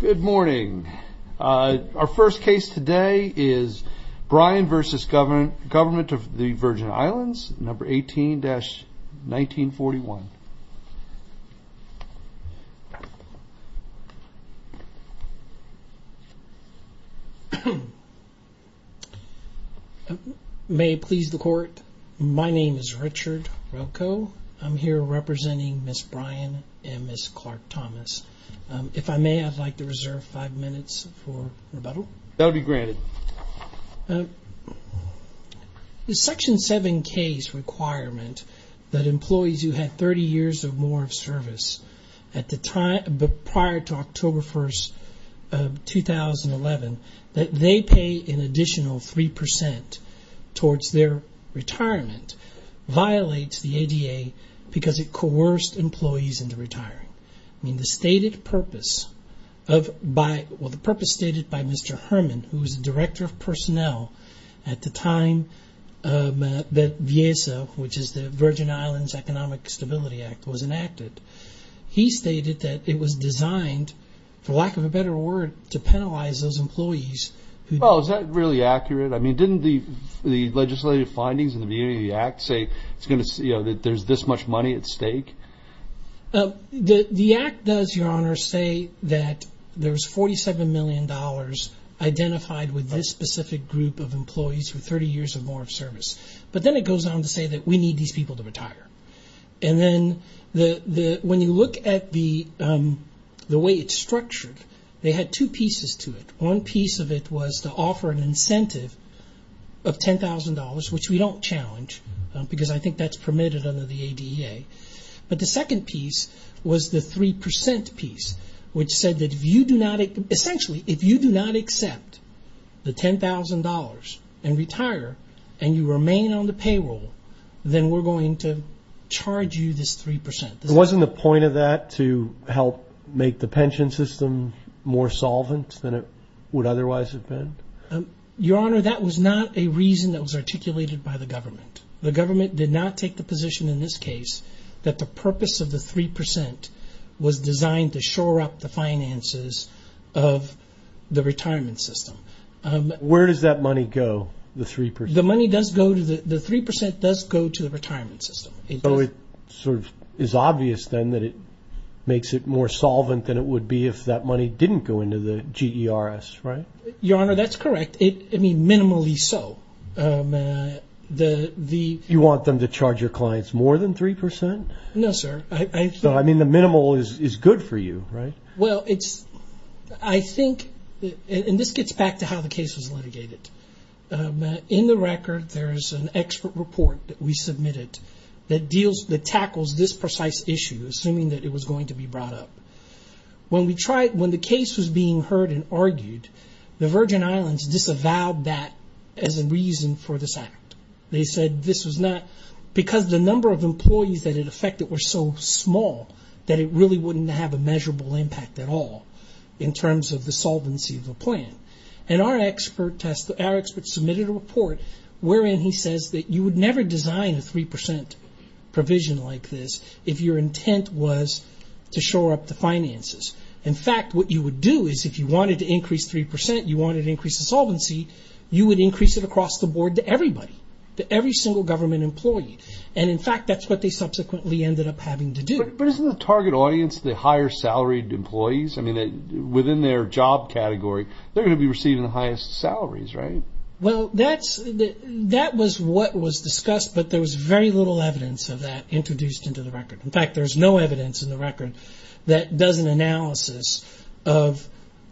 Good morning. Our first case today is Bryan v. Govt. of the Virgin Islands, 18-1941. May it please the Court, my name is Richard Rocco. I'm here representing Ms. Bryan and Ms. Clark Thomas. If I may, I'd like to reserve five minutes for rebuttal. Is Section 7K's requirement that employees who had 30 years or more of service prior to October 1, 2011, that they pay an additional 3% towards their retirement violate the ADA because it coerced employees into retiring? The purpose stated by Mr. Herman, who was the Director of Personnel at the time that VIESA, which is the Virgin Islands Economic Stability Act, was enacted, he stated that it was designed, for lack of a better word, to penalize those employees who... Well, is that really accurate? I mean, didn't the legislative findings in the beginning of the act say that there's this much money at stake? The act does, Your Honor, say that there's $47 million identified with this specific group of employees with 30 years or more of service. But then it goes on to say that we need these people to retire. And then when you look at the way it's structured, they had two pieces to it. One piece of it was to offer an incentive of $10,000, which we don't challenge, because I think that's permitted under the ADA. But the second piece was the 3% piece, which said that, essentially, if you do not accept the $10,000 and retire and you remain on the payroll, then we're going to charge you this 3%. Wasn't the point of that to help make the pension system more solvent than it would otherwise have been? Your Honor, that was not a reason that was articulated by the government. The government did not take the position in this case that the purpose of the 3% was designed to shore up the finances of the retirement system. Where does that money go, the 3%? The money does go to... The 3% does go to the retirement system. So it sort of is obvious, then, that it makes it more solvent than it would be if that money didn't go into the GERS, right? Your Honor, that's correct. I mean, minimally so. You want them to charge your clients more than 3%? No, sir. So, I mean, the minimal is good for you, right? Well, I think... And this gets back to how the case was litigated. In the record, there's an expert report that we submitted that tackles this precise issue, assuming that it was going to be brought up. When the case was being heard and argued, the Virgin Islands disavowed that as a reason for this act. They said this was not... Because the number of employees that it affected were so small that it really wouldn't have a measurable impact at all in terms of the solvency of the plan. And our expert submitted a report wherein he says that you would never design a 3% provision like this if your intent was to shore up the finances. In fact, what you would do is if you wanted to increase 3%, you wanted to increase the solvency, you would increase it across the board to everybody, to every single government employee. And, in fact, that's what they subsequently ended up having to do. But isn't the target audience the higher-salaried employees? I mean, within their job category, they're going to be receiving the highest salaries, right? Well, that was what was discussed, but there was very little evidence of that introduced into the record. In fact, there's no evidence in the record that does an analysis of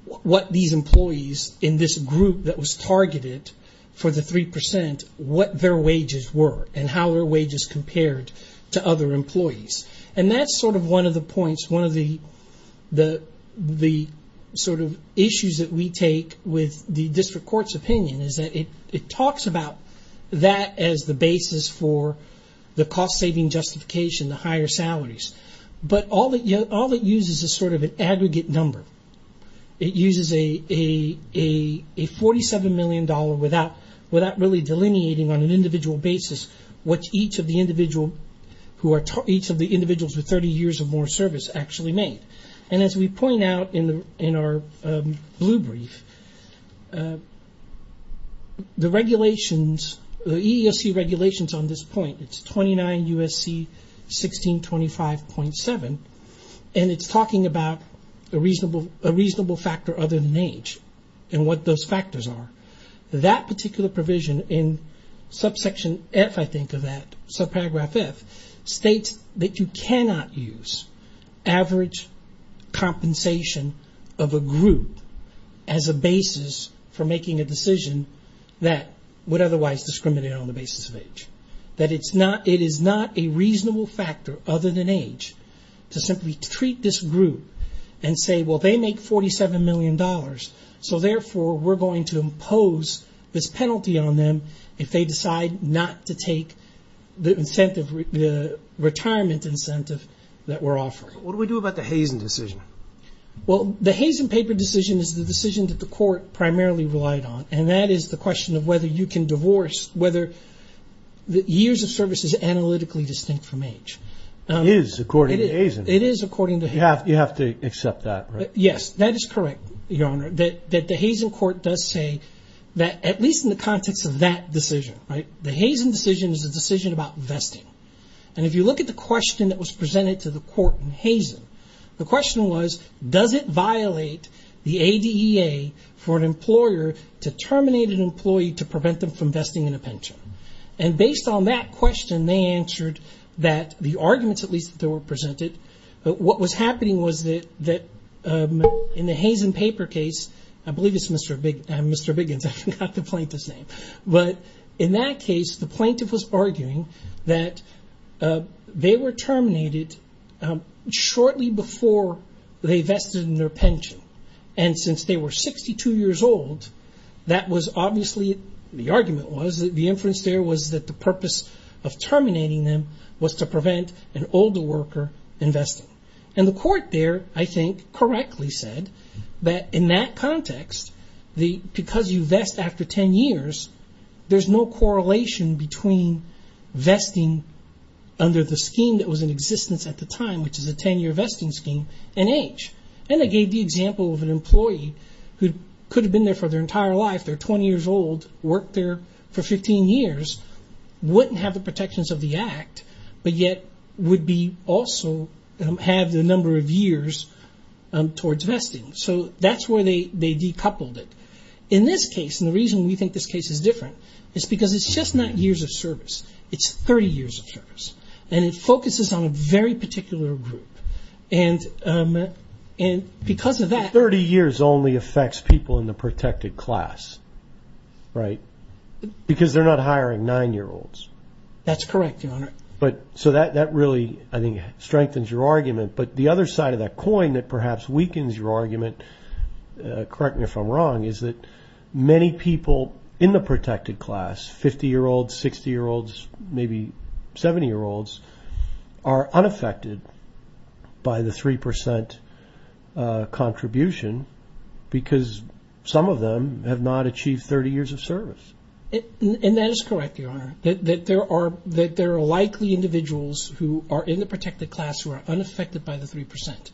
what these employees in this group that was targeted for the 3% what their wages were and how their wages compared to other employees. And that's sort of one of the points, one of the sort of issues that we take with the district court's opinion is that it talks about that as the basis for the cost-saving justification, the higher salaries. But all it uses is sort of an aggregate number. It uses a $47 million without really delineating on an individual basis what each of the individuals with 30 years or more service actually made. And as we point out in our blue brief, the regulations, the EEOC regulations on this point, it's 29 U.S.C. 1625.7, and it's talking about a reasonable factor other than age and what those factors are. That particular provision in subsection F, I think, of that, subparagraph F, states that you cannot use average compensation of a group as a basis for making a decision that would otherwise discriminate on the basis of age. That it is not a reasonable factor other than age to simply treat this group and say, well, they make $47 million, so therefore we're going to impose this penalty on them if they decide not to take the retirement incentive that we're offering. What do we do about the Hazen decision? Well, the Hazen paper decision is the decision that the court primarily relied on, and that is the question of whether you can divorce whether the years of service is analytically distinct from age. It is, according to Hazen. It is, according to Hazen. You have to accept that, right? Yes, that is correct, Your Honor, that the Hazen court does say that, at least in the context of that decision, the Hazen decision is a decision about vesting. If you look at the question that was presented to the court in Hazen, the question was, does it violate the ADEA for an employer to terminate an employee to prevent them from vesting in a pension? Based on that question, they answered that the arguments, at least, that were presented, what was happening was that in the Hazen paper case, I believe it's Mr. Biggins, I forgot the plaintiff's name, but in that case, the plaintiff was arguing that they were terminated shortly before they vested in their pension, and since they were 62 years old, that was obviously, the argument was, the inference there was that the purpose of terminating them was to prevent an older worker investing. The court there, I think, correctly said that, in that context, because you vest after 10 years, there's no correlation between vesting under the scheme that was in existence at the time, which is a 10-year vesting scheme, and age. They gave the example of an employee who could have been there for their entire life, they're intact, but yet, would also have the number of years towards vesting. That's where they decoupled it. In this case, and the reason we think this case is different, is because it's just not years of service, it's 30 years of service, and it focuses on a very particular group. Because of that- 30 years only affects people in the protected class, right? Because they're not hiring nine-year-olds. That's correct, Your Honor. That really, I think, strengthens your argument, but the other side of that coin that perhaps weakens your argument, correct me if I'm wrong, is that many people in the protected class, 50-year-olds, 60-year-olds, maybe 70-year-olds, are unaffected by the 3% contribution, because some of them have not achieved 30 years of service. That is correct, Your Honor, that there are likely individuals who are in the protected class who are unaffected by the 3%.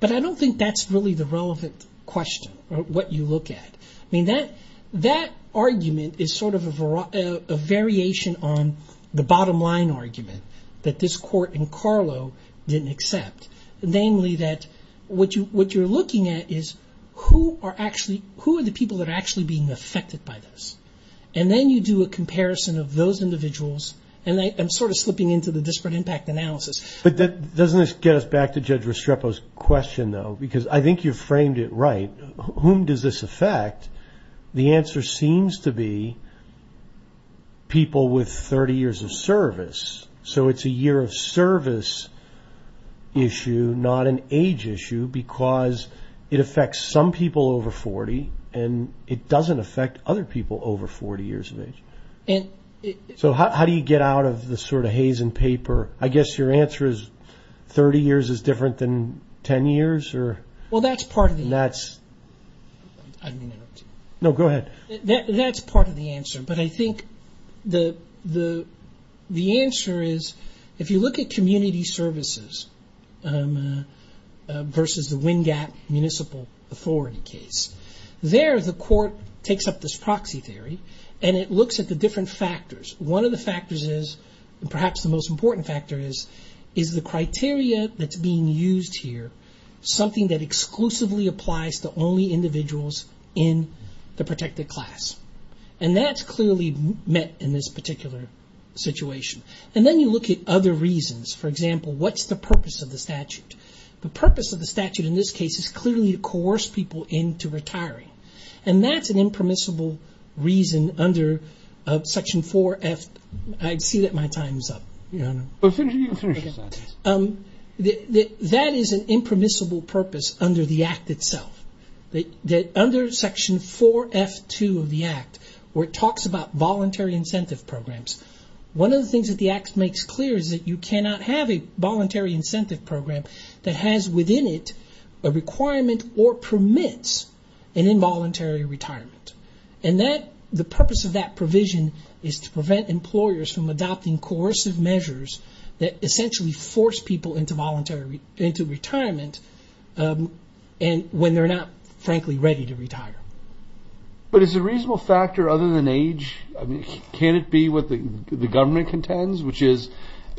But I don't think that's really the relevant question, what you look at. That argument is sort of a variation on the bottom line argument that this court in Carlo didn't accept, namely that what you're looking at is who are the people that are actually being affected by this. And then you do a comparison of those individuals, and I'm sort of slipping into the disparate impact analysis. But doesn't this get us back to Judge Restrepo's question, though? Because I think you framed it right. Whom does this affect? The answer seems to be people with 30 years of service. So it's a year of service issue, not an age issue, because it affects some people over 40, and it doesn't affect other people over 40 years of age. So how do you get out of the sort of haze and paper? I guess your answer is 30 years is different than 10 years? Well, that's part of the answer. No, go ahead. That's part of the answer. But I think the answer is, if you look at community services versus the Wingat Municipal Authority case, there the court takes up this proxy theory, and it looks at the different factors. One of the factors is, and perhaps the most important factor is, is the criteria that's being used here something that exclusively applies to only individuals in the protected class. And that's clearly met in this particular situation. And then you look at other reasons. For example, what's the purpose of the statute? The purpose of the statute in this case is clearly to coerce people into retiring. And that's an impermissible reason under Section 4F, I see that my time's up. That is an impermissible purpose under the Act itself. Under Section 4F2 of the Act, where it talks about voluntary incentive programs, one of the things that the Act makes clear is that you cannot have a voluntary incentive program that has within it a requirement or permits an involuntary retirement. The purpose of that provision is to prevent employers from adopting coercive measures that essentially force people into retirement when they're not, frankly, ready to retire. But is a reasonable factor other than age, I mean, can it be what the government contends, which is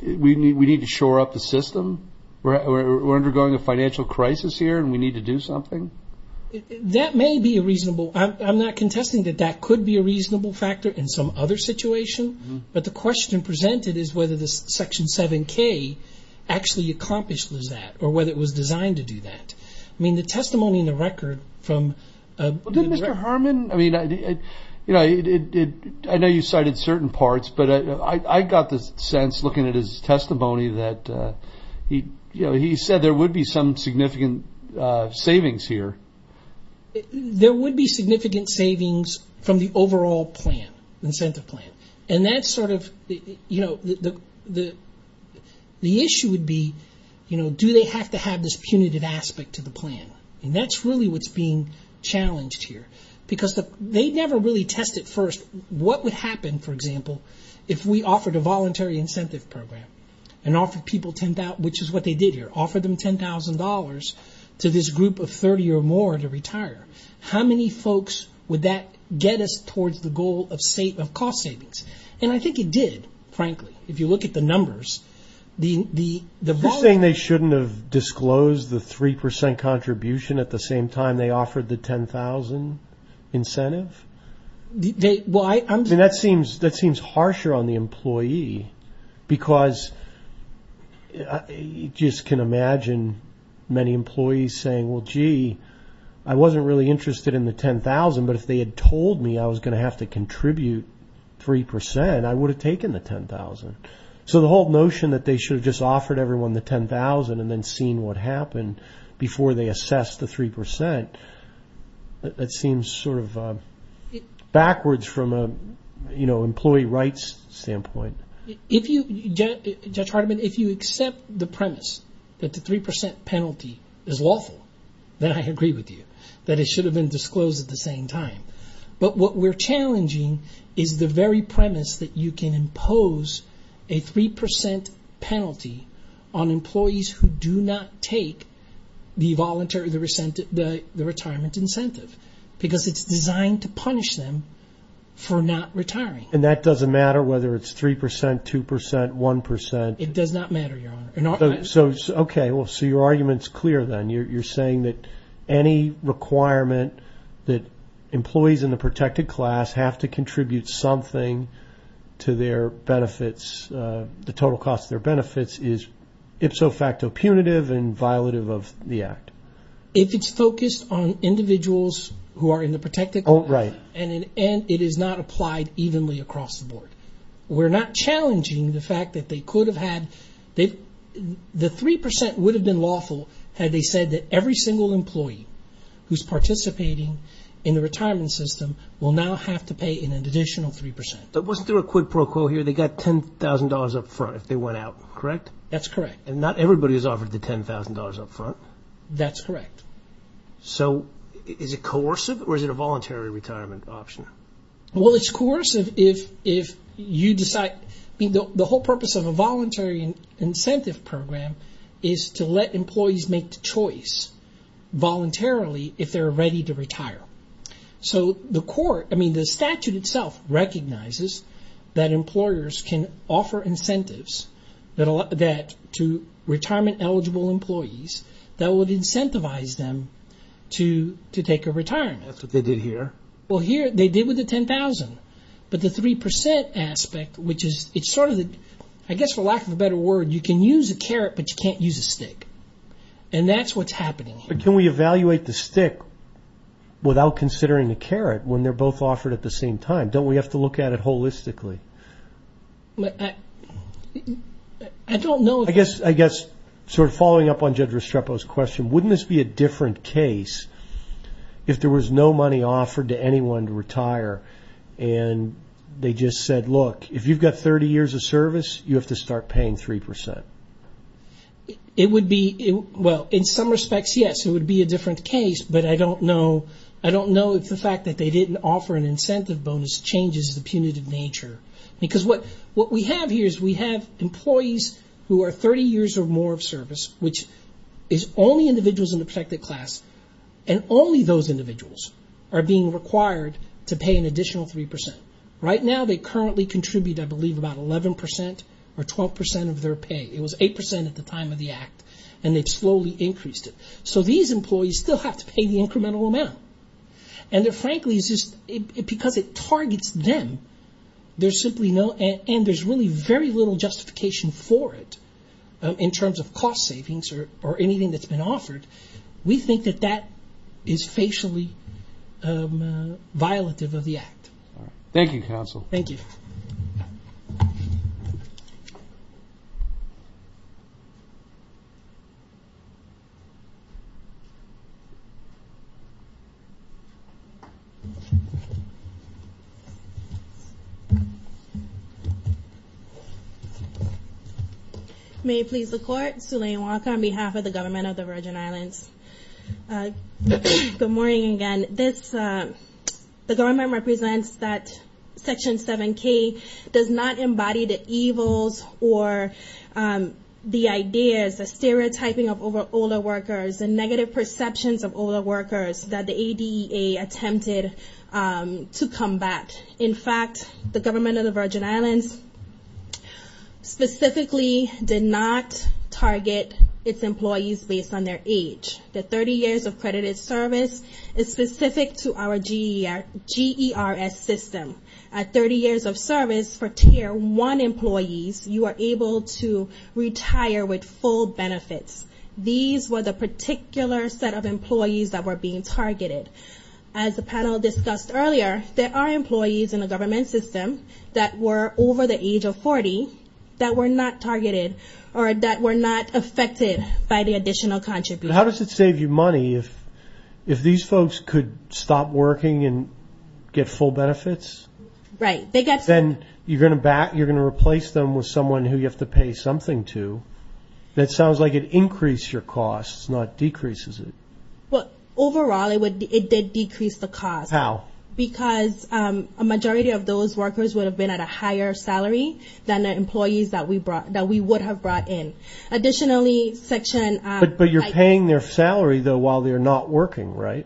we need to shore up the system, we're undergoing a financial crisis here and we need to do something? That may be a reasonable, I'm not contesting that that could be a reasonable factor in some other situation, but the question presented is whether this Section 7K actually accomplished that or whether it was designed to do that. I mean, the testimony in the record from- But then Mr. Herman, I mean, I know you cited certain parts, but I got the sense looking at his testimony that he said there would be some significant savings here. There would be significant savings from the overall plan, incentive plan, and that's sort of the issue would be, do they have to have this punitive aspect to the plan? That's really what's being challenged here because they never really tested first what would happen, for example, if we offered a voluntary incentive program and offered people $10,000, which is what they did here, offered them $10,000 to this group of 30 or more to retire. How many folks would that get us towards the goal of cost savings? And I think it did, frankly, if you look at the numbers. You're saying they shouldn't have disclosed the 3% contribution at the same time they offered the $10,000 incentive? I mean, that seems harsher on the employee because you just can imagine many employees saying, well, gee, I wasn't really interested in the $10,000, but if they had told me I was going to have to contribute 3%, I would have taken the $10,000. So the whole notion that they should have just offered everyone the $10,000 and then seen what happened before they assessed the 3%, that seems sort of backwards from an employee rights standpoint. Judge Hardiman, if you accept the premise that the 3% penalty is lawful, then I agree with you that it should have been disclosed at the same time. But what we're challenging is the very premise that you can impose a 3% penalty on employees who do not take the retirement incentive because it's designed to punish them for not retiring. And that doesn't matter whether it's 3%, 2%, 1%? It does not matter, Your Honor. Okay, so your argument's clear then. You're saying that any requirement that employees in the protected class have to contribute something to their benefits, the total cost of their benefits, is ipso facto punitive and violative of the act? If it's focused on individuals who are in the protected class and it is not applied evenly across the board, we're not challenging the fact that the 3% would have been lawful had they said that every single employee who's participating in the retirement system will now have to pay an additional 3%. But wasn't there a quid pro quo here? They got $10,000 up front if they went out, correct? That's correct. Not everybody is offered the $10,000 up front? That's correct. So is it coercive or is it a voluntary retirement option? Well, it's coercive if you decide... The whole purpose of a voluntary incentive program is to let employees make the choice voluntarily if they're ready to retire. So the court, I mean, the statute itself recognizes that employers can offer incentives to retirement eligible employees that would incentivize them to take a retirement. That's what they did here. Well, here they did with the $10,000, but the 3% aspect, which is, it's sort of, I guess for lack of a better word, you can use a carrot, but you can't use a stick. And that's what's happening here. But can we evaluate the stick without considering the carrot when they're both offered at the same time? Don't we have to look at it holistically? I don't know if... I guess, sort of following up on Judge Restrepo's question, wouldn't this be a different case if there was no money offered to anyone to retire and they just said, look, if you've got 30 years of service, you have to start paying 3%? It would be... Well, in some respects, yes, it would be a different case, but I don't know if the fact that they didn't offer an incentive bonus changes the punitive nature. Because what we have here is we have employees who are 30 years or more of service, which is only individuals in the protected class, and only those individuals are being required to pay an additional 3%. Right now, they currently contribute, I believe, about 11% or 12% of their pay. It was 8% at the time of the act, and they've slowly increased it. So these employees still have to pay the incremental amount. And frankly, because it targets them, there's simply no... Or anything that's been offered, we think that that is facially violative of the act. Thank you, counsel. Thank you. May it please the Court, Suleymane Walker on behalf of the Government of the Virgin Islands. Good morning again. The government represents that Section 7K does not embody the evils or the ideas, the stereotyping of older workers, the negative perceptions of older workers that the ADA attempted to combat. In fact, the Government of the Virgin Islands specifically did not target its employees based on their age. The 30 years of credited service is specific to our GERS system. At 30 years of service for Tier 1 employees, you are able to retire with full benefits. These were the particular set of employees that were being targeted. As the panel discussed earlier, there are employees in the government system that were over the age of 40 that were not targeted or that were not affected by the additional contributions. How does it save you money if these folks could stop working and get full benefits? Right. Then you're going to replace them with someone who you have to pay something to. That sounds like it increased your costs, not decreases it. Overall, it did decrease the costs. How? Because a majority of those workers would have been at a higher salary than the employees that we would have brought in. Additionally, Section... But you're paying their salary, though, while they're not working, right?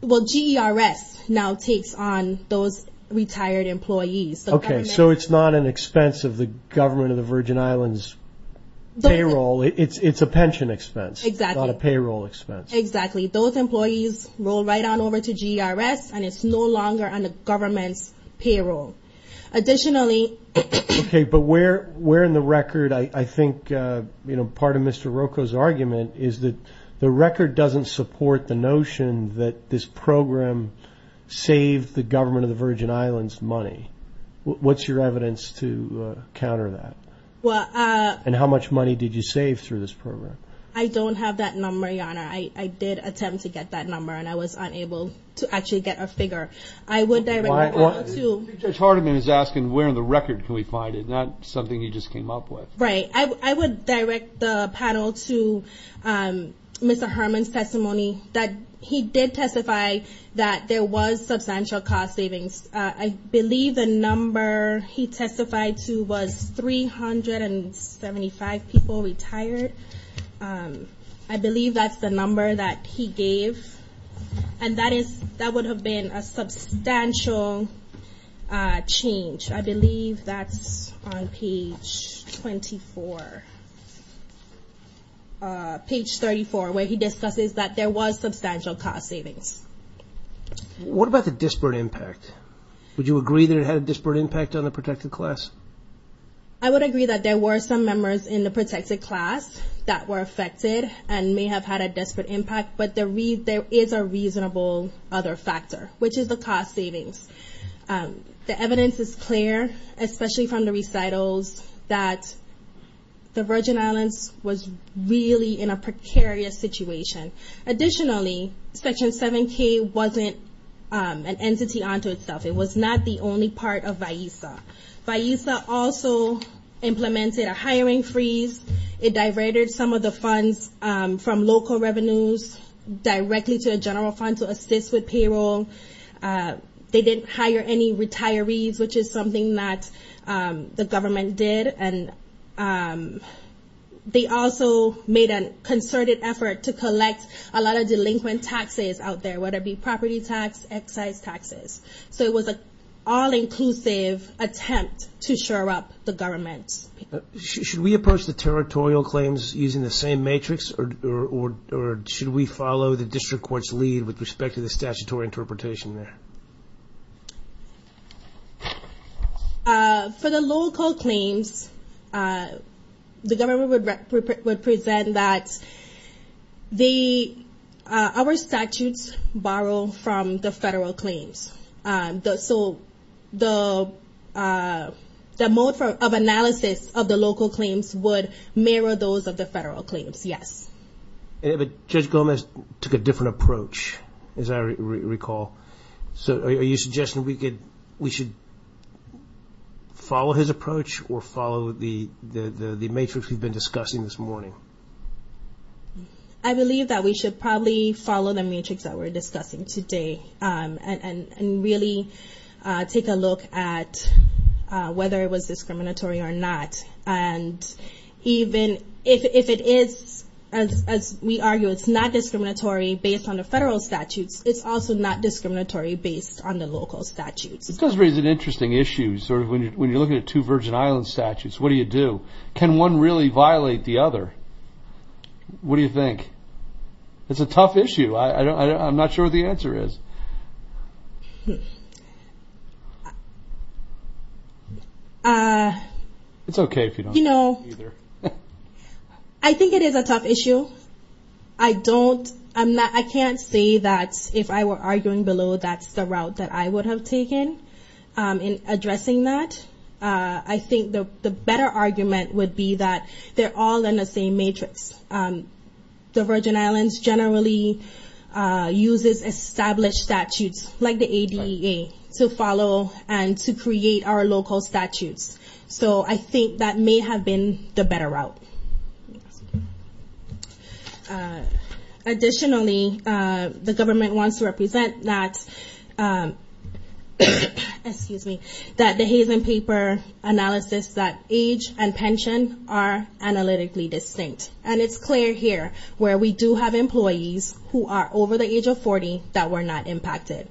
Well, GERS now takes on those retired employees. Okay, so it's not an expense of the Government of the Virgin Islands' payroll. It's a pension expense. Exactly. Not a payroll expense. Exactly. Those employees roll right on over to GERS and it's no longer on the government's payroll. Additionally... Okay, but where in the record, I think part of Mr. Roko's argument is that the record doesn't support the notion that this program saved the Government of the Virgin Islands money. What's your evidence to counter that? And how much money did you save through this program? I don't have that number, Your Honor. I did attempt to get that number and I was unable to actually get a figure. I would direct you to... I think Judge Hardiman is asking where in the record can we find it, not something he just came up with. Right. I would direct the panel to Mr. Herman's testimony that he did testify that there was substantial cost savings. I believe the number he testified to was 375 people retired. I believe that's the number that he gave. And that would have been a substantial change. I believe that's on page 24. Page 34, where he discusses that there was substantial cost savings. What about the disparate impact? Would you agree that it had a disparate impact on the protected class? I would agree that there were some members in the protected class that were affected and may have had a disparate impact. But there is a reasonable other factor, which is the cost savings. The evidence is clear, especially from the recitals, that the Virgin Islands was really in a precarious situation. Additionally, Section 7K wasn't an entity unto itself. It was not the only part of VIESA. VIESA also implemented a hiring freeze. It diverted some of the funds from local revenues directly to a general fund to assist with payroll. They didn't hire any retirees, which is something that the government did. They also made a concerted effort to collect a lot of delinquent taxes out there, whether it be property tax, excise taxes. So it was an all-inclusive attempt to shore up the government. Should we approach the territorial claims using the same matrix, or should we follow the district court's lead with respect to the statutory interpretation there? For the local claims, the government would present that our statutes borrow from the federal claims. So the mode of analysis of the local claims would mirror those of the federal claims, yes. But Judge Gomez took a different approach, as I recall. So are you suggesting we should follow his approach, or follow the matrix we've been discussing this morning? I believe that we should probably follow the matrix that we're discussing today, and really take a look at whether it was discriminatory or not. And even if it is, as we argue, it's not discriminatory based on the federal statutes, it's also not discriminatory based on the local statutes. It does raise an interesting issue, when you're looking at two Virgin Islands statutes, what do you do? Can one really violate the other? What do you think? It's a tough issue, I'm not sure what the answer is. It's okay if you don't know either. I think it is a tough issue. I don't, I can't say that if I were arguing below, that's the route that I would have taken in addressing that. I think the better argument would be that they're all in the same matrix. The Virgin Islands generally uses established statutes, like the ADA, to follow and to create our local statutes. So I think that may have been the better route. Additionally, the government wants to represent that, excuse me, that the Hazen paper analysis that age and pension are analytically distinct. And it's clear here, where we do have employees who are over the age of 40 that were not impacted.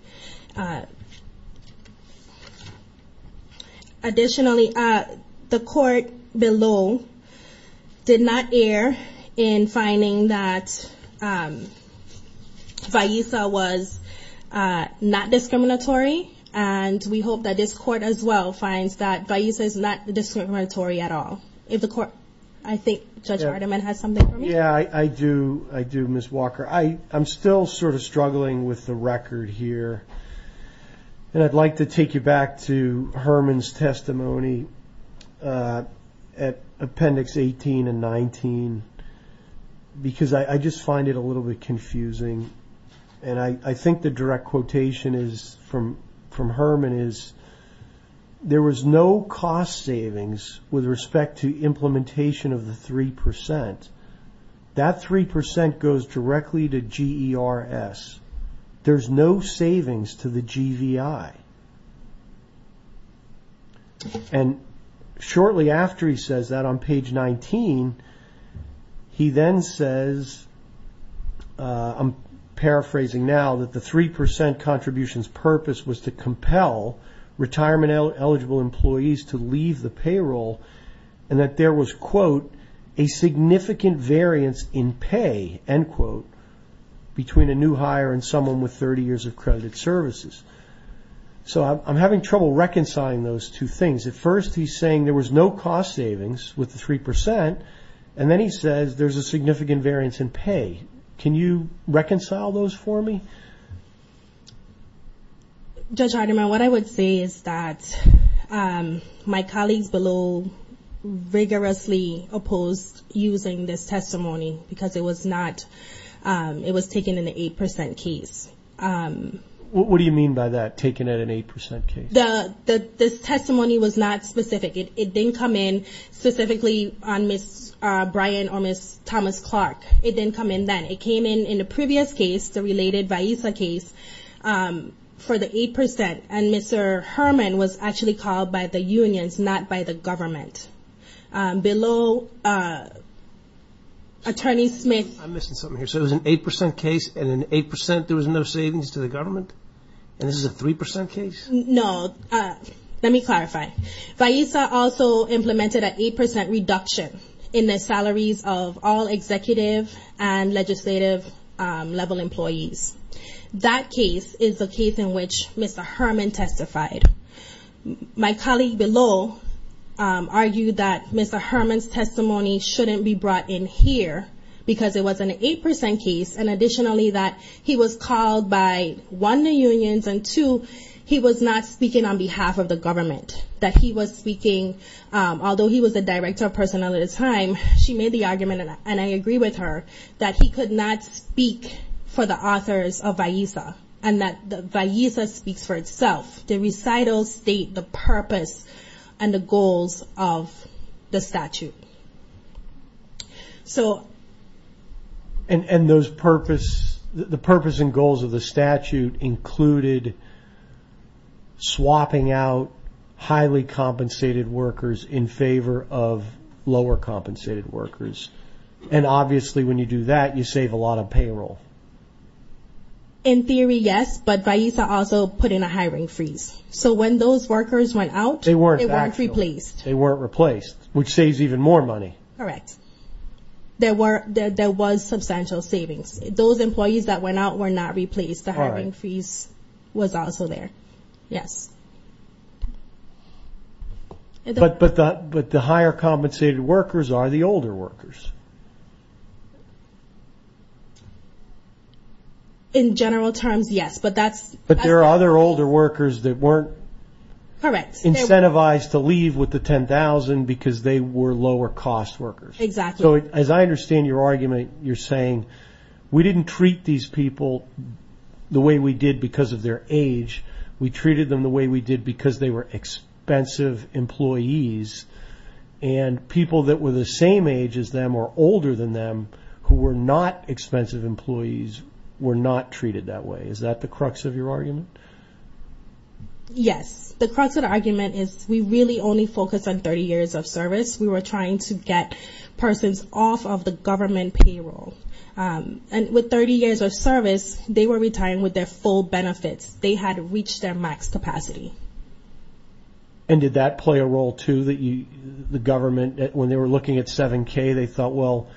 Additionally, the court below did not err in finding that Vaisa was not discriminatory. And we hope that this court as well finds that Vaisa is not discriminatory at all. If the court, I think Judge Hardiman has something for me. Yeah, I do. I do, Ms. Walker. I'm still sort of struggling with the record here. And I'd like to take you back to Herman's testimony at Appendix 18 and 19, because I just find it a little bit confusing. And I think the direct quotation is from Herman is, there was no cost savings with respect to implementation of the 3%. That 3% goes directly to GERS. There's no savings to the GVI. And shortly after he says that on page 19, he then says, I'm paraphrasing now, that the 3% contribution's purpose was to compel retirement eligible employees to leave the payroll and that there was, quote, a significant variance in pay, end quote, between a new hire and someone with 30 years of credited services. So I'm having trouble reconciling those two things. At first, he's saying there was no cost savings with the 3%, and then he says there's a significant variance in pay. Can you reconcile those for me? Judge Hardiman, what I would say is that my colleagues below rigorously opposed using this testimony because it was not, it was taken in the 8% case. What do you mean by that, taken at an 8% case? This testimony was not specific. It didn't come in specifically on Ms. Bryan or Ms. Thomas-Clark. It didn't come in then. It came in in the previous case, the related Vaisa case, for the 8%. And Mr. Herman was actually called by the unions, not by the government. Below Attorney Smith. I'm missing something here. So it was an 8% case, and in 8% there was no savings to the government? And this is a 3% case? No. Let me clarify. Okay. Vaisa also implemented an 8% reduction in the salaries of all executive and legislative level employees. That case is the case in which Mr. Herman testified. My colleague below argued that Mr. Herman's testimony shouldn't be brought in here because it was an 8% case, and additionally that he was called by, one, the unions, and two, he was not speaking on behalf of the government. That he was speaking, although he was the Director of Personnel at the time, she made the argument, and I agree with her, that he could not speak for the authors of Vaisa, and that Vaisa speaks for itself, the recital state, the purpose, and the goals of the statute. And those purpose, the purpose and goals of the statute included swapping out highly compensated workers in favor of lower compensated workers. And obviously when you do that, you save a lot of payroll. In theory, yes, but Vaisa also put in a hiring freeze. So when those workers went out, they weren't replaced. They weren't replaced, which saves even more money. Correct. There were, there was substantial savings. Those employees that went out were not replaced, the hiring freeze was also there, yes. But the higher compensated workers are the older workers. In general terms, yes, but that's... But there are other older workers that weren't... Correct. That were incentivized to leave with the 10,000 because they were lower cost workers. Exactly. So as I understand your argument, you're saying, we didn't treat these people the way we did because of their age. We treated them the way we did because they were expensive employees, and people that were the same age as them or older than them, who were not expensive employees, were not treated that way. Is that the crux of your argument? Yes. The crux of the argument is, we really only focus on 30 years of service. We were trying to get persons off of the government payroll. And with 30 years of service, they were retiring with their full benefits. They had reached their max capacity. And did that play a role too, that the government, when they were looking at 7K, they thought, well,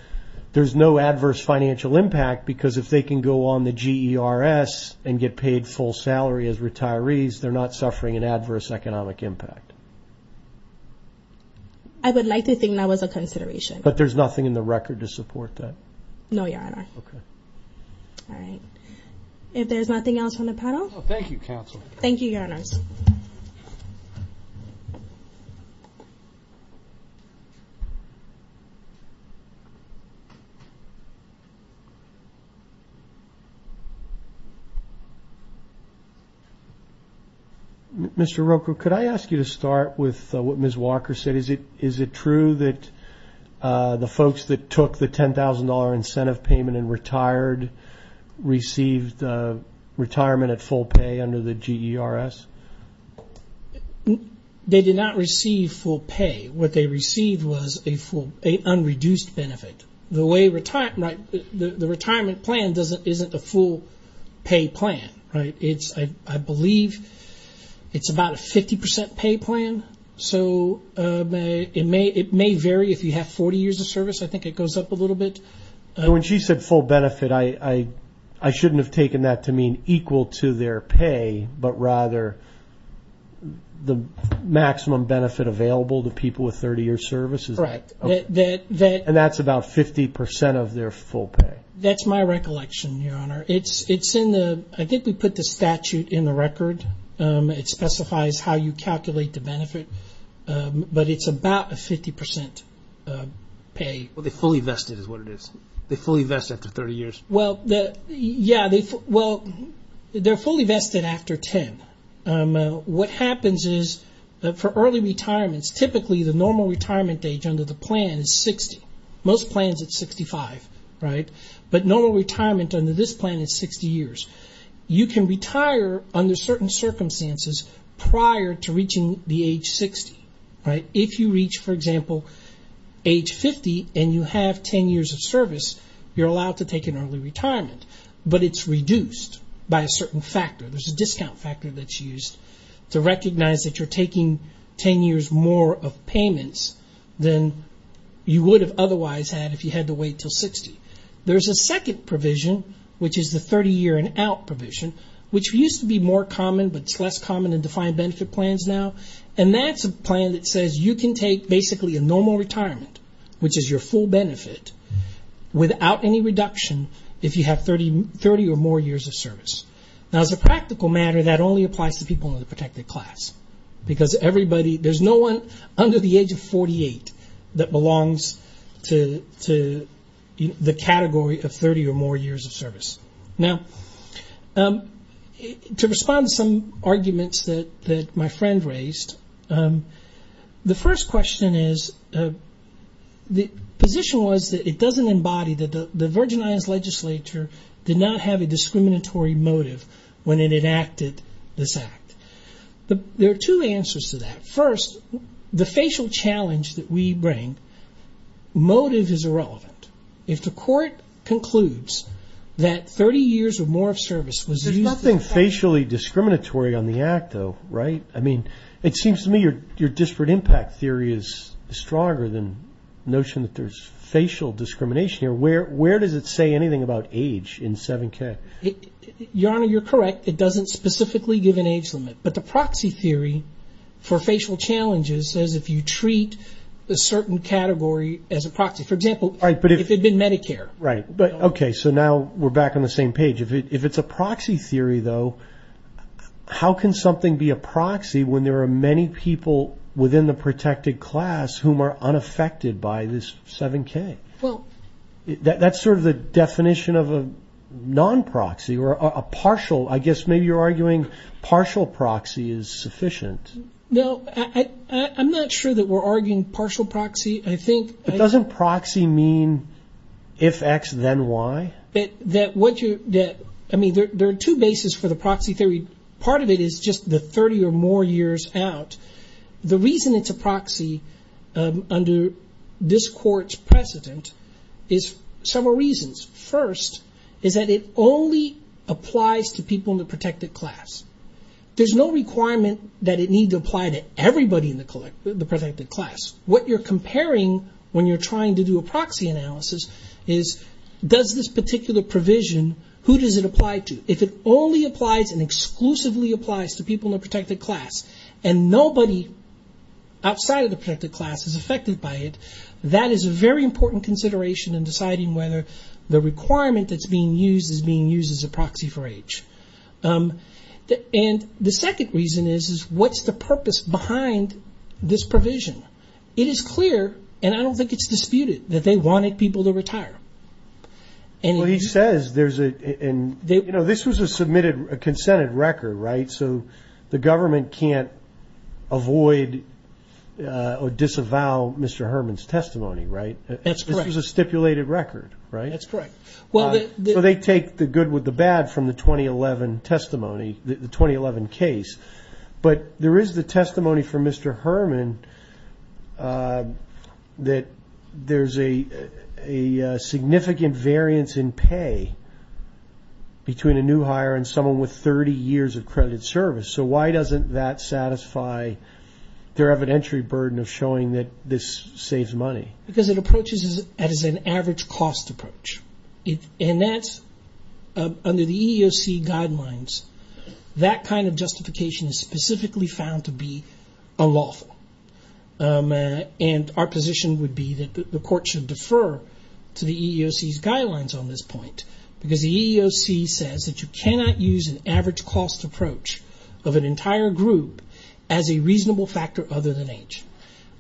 there's no adverse financial impact because if they can go on the GERS and get paid full salary as retirees, they're not suffering an adverse economic impact. I would like to think that was a consideration. But there's nothing in the record to support that? No, your honor. Okay. All right. If there's nothing else on the panel. No, thank you, counsel. Thank you, your honors. Mr. Roker, could I ask you to start with what Ms. Walker said? Is it true that the folks that took the $10,000 incentive payment and retired, received retirement at full pay under the GERS? They did not receive full pay. What they received was an unreduced benefit. The retirement plan isn't a full pay plan, right? I believe it's about a 50% pay plan. So it may vary if you have 40 years of service. I think it goes up a little bit. When she said full benefit, I shouldn't have taken that to mean equal to their pay, but rather the maximum benefit available to people with 30-year services? Correct. And that's about 50% of their full pay? That's my recollection, your honor. I think we put the statute in the record. It specifies how you calculate the benefit. But it's about a 50% pay. Well, they fully vested is what it is. They fully vested after 30 years. Well, they're fully vested after 10. What happens is that for early retirements, typically the normal retirement age under the plan is 60. Most plans it's 65, right? But normal retirement under this plan is 60 years. You can retire under certain circumstances prior to reaching the age 60, right? If you reach, for example, age 50 and you have 10 years of service, you're allowed to take an early retirement. But it's reduced by a certain factor. There's a discount factor that's used to recognize that you're taking 10 years more of payments than you would have otherwise had if you had to wait until 60. There's a second provision, which is the 30-year and out provision, which used to be more common, but it's less common in defined benefit plans now. And that's a plan that says you can take basically a normal retirement, which is your full benefit, without any reduction if you have 30 or more years of service. Now, as a practical matter, that only applies to people in the protected class because everybody, there's no one under the age of 48 that belongs to the category of 30 or more years of service. Now, to respond to some arguments that my friend raised, the first question is, the position was that it doesn't embody that the Virgin Islands Legislature did not have a motive when it enacted this act. There are two answers to that. First, the facial challenge that we bring, motive is irrelevant. If the court concludes that 30 years or more of service was used to... There's nothing facially discriminatory on the act, though, right? I mean, it seems to me your disparate impact theory is stronger than the notion that there's facial discrimination here. Where does it say anything about age in 7K? Your Honor, you're correct. It doesn't specifically give an age limit, but the proxy theory for facial challenges says if you treat a certain category as a proxy, for example, if it had been Medicare. Right, but okay, so now we're back on the same page. If it's a proxy theory, though, how can something be a proxy when there are many people within the protected class whom are unaffected by this 7K? Well... That's sort of the definition of a non-proxy, or a partial, I guess maybe you're arguing partial proxy is sufficient. No, I'm not sure that we're arguing partial proxy. I think... But doesn't proxy mean if X, then Y? That what you... I mean, there are two bases for the proxy theory. Part of it is just the 30 or more years out. The reason it's a proxy under this court's precedent is several reasons. First is that it only applies to people in the protected class. There's no requirement that it need to apply to everybody in the protected class. What you're comparing when you're trying to do a proxy analysis is does this particular provision, who does it apply to? If it only applies and exclusively applies to people in the protected class and nobody outside of the protected class is affected by it, that is a very important consideration in deciding whether the requirement that's being used is being used as a proxy for age. The second reason is what's the purpose behind this provision? It is clear, and I don't think it's disputed, that they wanted people to retire. Well, he says there's a... This was a submitted, a consented record, right? So the government can't avoid or disavow Mr. Herman's testimony, right? That's correct. This was a stipulated record, right? That's correct. Well, they... So they take the good with the bad from the 2011 testimony, the 2011 case. But there is the testimony from Mr. Herman that there's a significant variance in pay between a new hire and someone with 30 years of credited service. So why doesn't that satisfy their evidentiary burden of showing that this saves money? Because it approaches it as an average cost approach, and that's under the EEOC guidelines. That kind of justification is specifically found to be unlawful, and our position would be that the court should defer to the EEOC's guidelines on this point, because the EEOC says that you cannot use an average cost approach of an entire group as a reasonable factor other than age,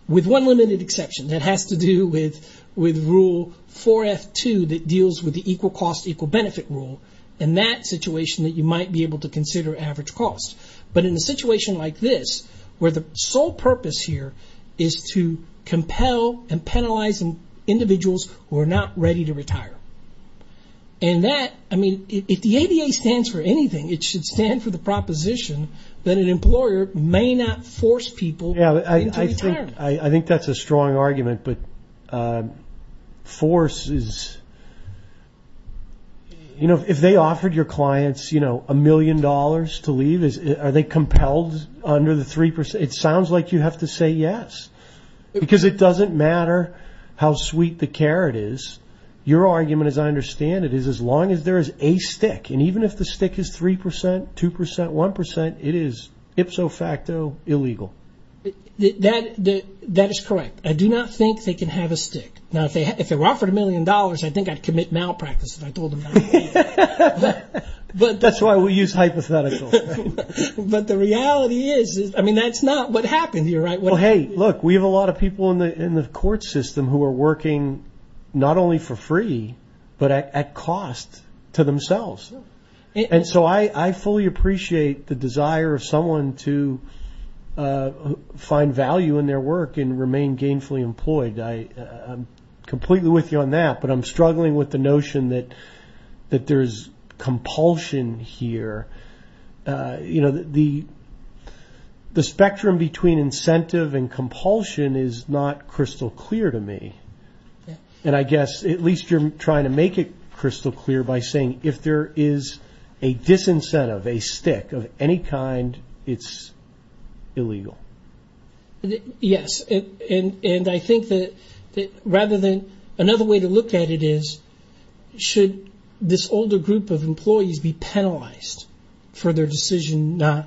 with one limited exception. That has to do with Rule 4F2 that deals with the equal cost, equal benefit rule, and that situation that you might be able to consider average cost. But in a situation like this, where the sole purpose here is to compel and penalize individuals who are not ready to retire, and that, I mean, if the ADA stands for anything, it should stand for the proposition that an employer may not force people into retirement. I think that's a strong argument, but force is, you know, if they offered your clients, you know, a million dollars to leave, are they compelled under the 3%? It sounds like you have to say yes, because it doesn't matter how sweet the carrot is. Your argument, as I understand it, is as long as there is a stick, and even if the stick is 3%, 2%, 1%, it is ipso facto illegal. That is correct. I do not think they can have a stick. Now, if they were offered a million dollars, I think I'd commit malpractice if I told them not to. That's why we use hypotheticals. But the reality is, I mean, that's not what happened here, right? Well, hey, look, we have a lot of people in the court system who are working not only for free, but at cost to themselves. And so I fully appreciate the desire of someone to find value in their work and remain gainfully employed. I'm completely with you on that, but I'm struggling with the notion that there's compulsion here. You know, the spectrum between incentive and compulsion is not crystal clear to me. And I guess at least you're trying to make it crystal clear by saying if there is a disincentive, a stick of any kind, it's illegal. Yes, and I think that rather than – another way to look at it is, should this older group of employees be penalized for their decision not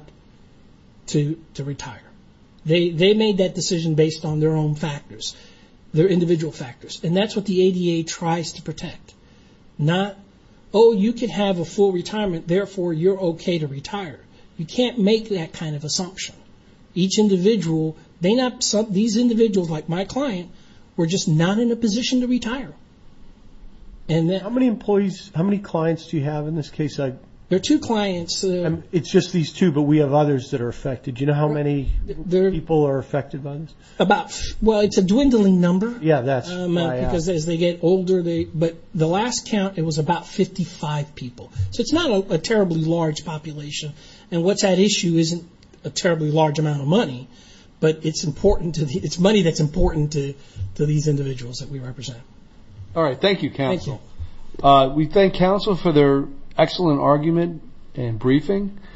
to retire? They made that decision based on their own factors, their individual factors. And that's what the ADA tries to protect, not, oh, you can have a full retirement, therefore you're okay to retire. You can't make that kind of assumption. Each individual – they not – these individuals, like my client, were just not in a position to retire. And then – How many employees – how many clients do you have in this case? There are two clients. It's just these two, but we have others that are affected. Did you know how many people are affected by this? About – well, it's a dwindling number. Yeah, that's why I asked. Because as they get older, they – but the last count, it was about 55 people. So it's not a terribly large population. And what's at issue isn't a terribly large amount of money, but it's important to – it's money that's important to these individuals that we represent. All right. Thank you. We thank counsel for their excellent argument and briefing.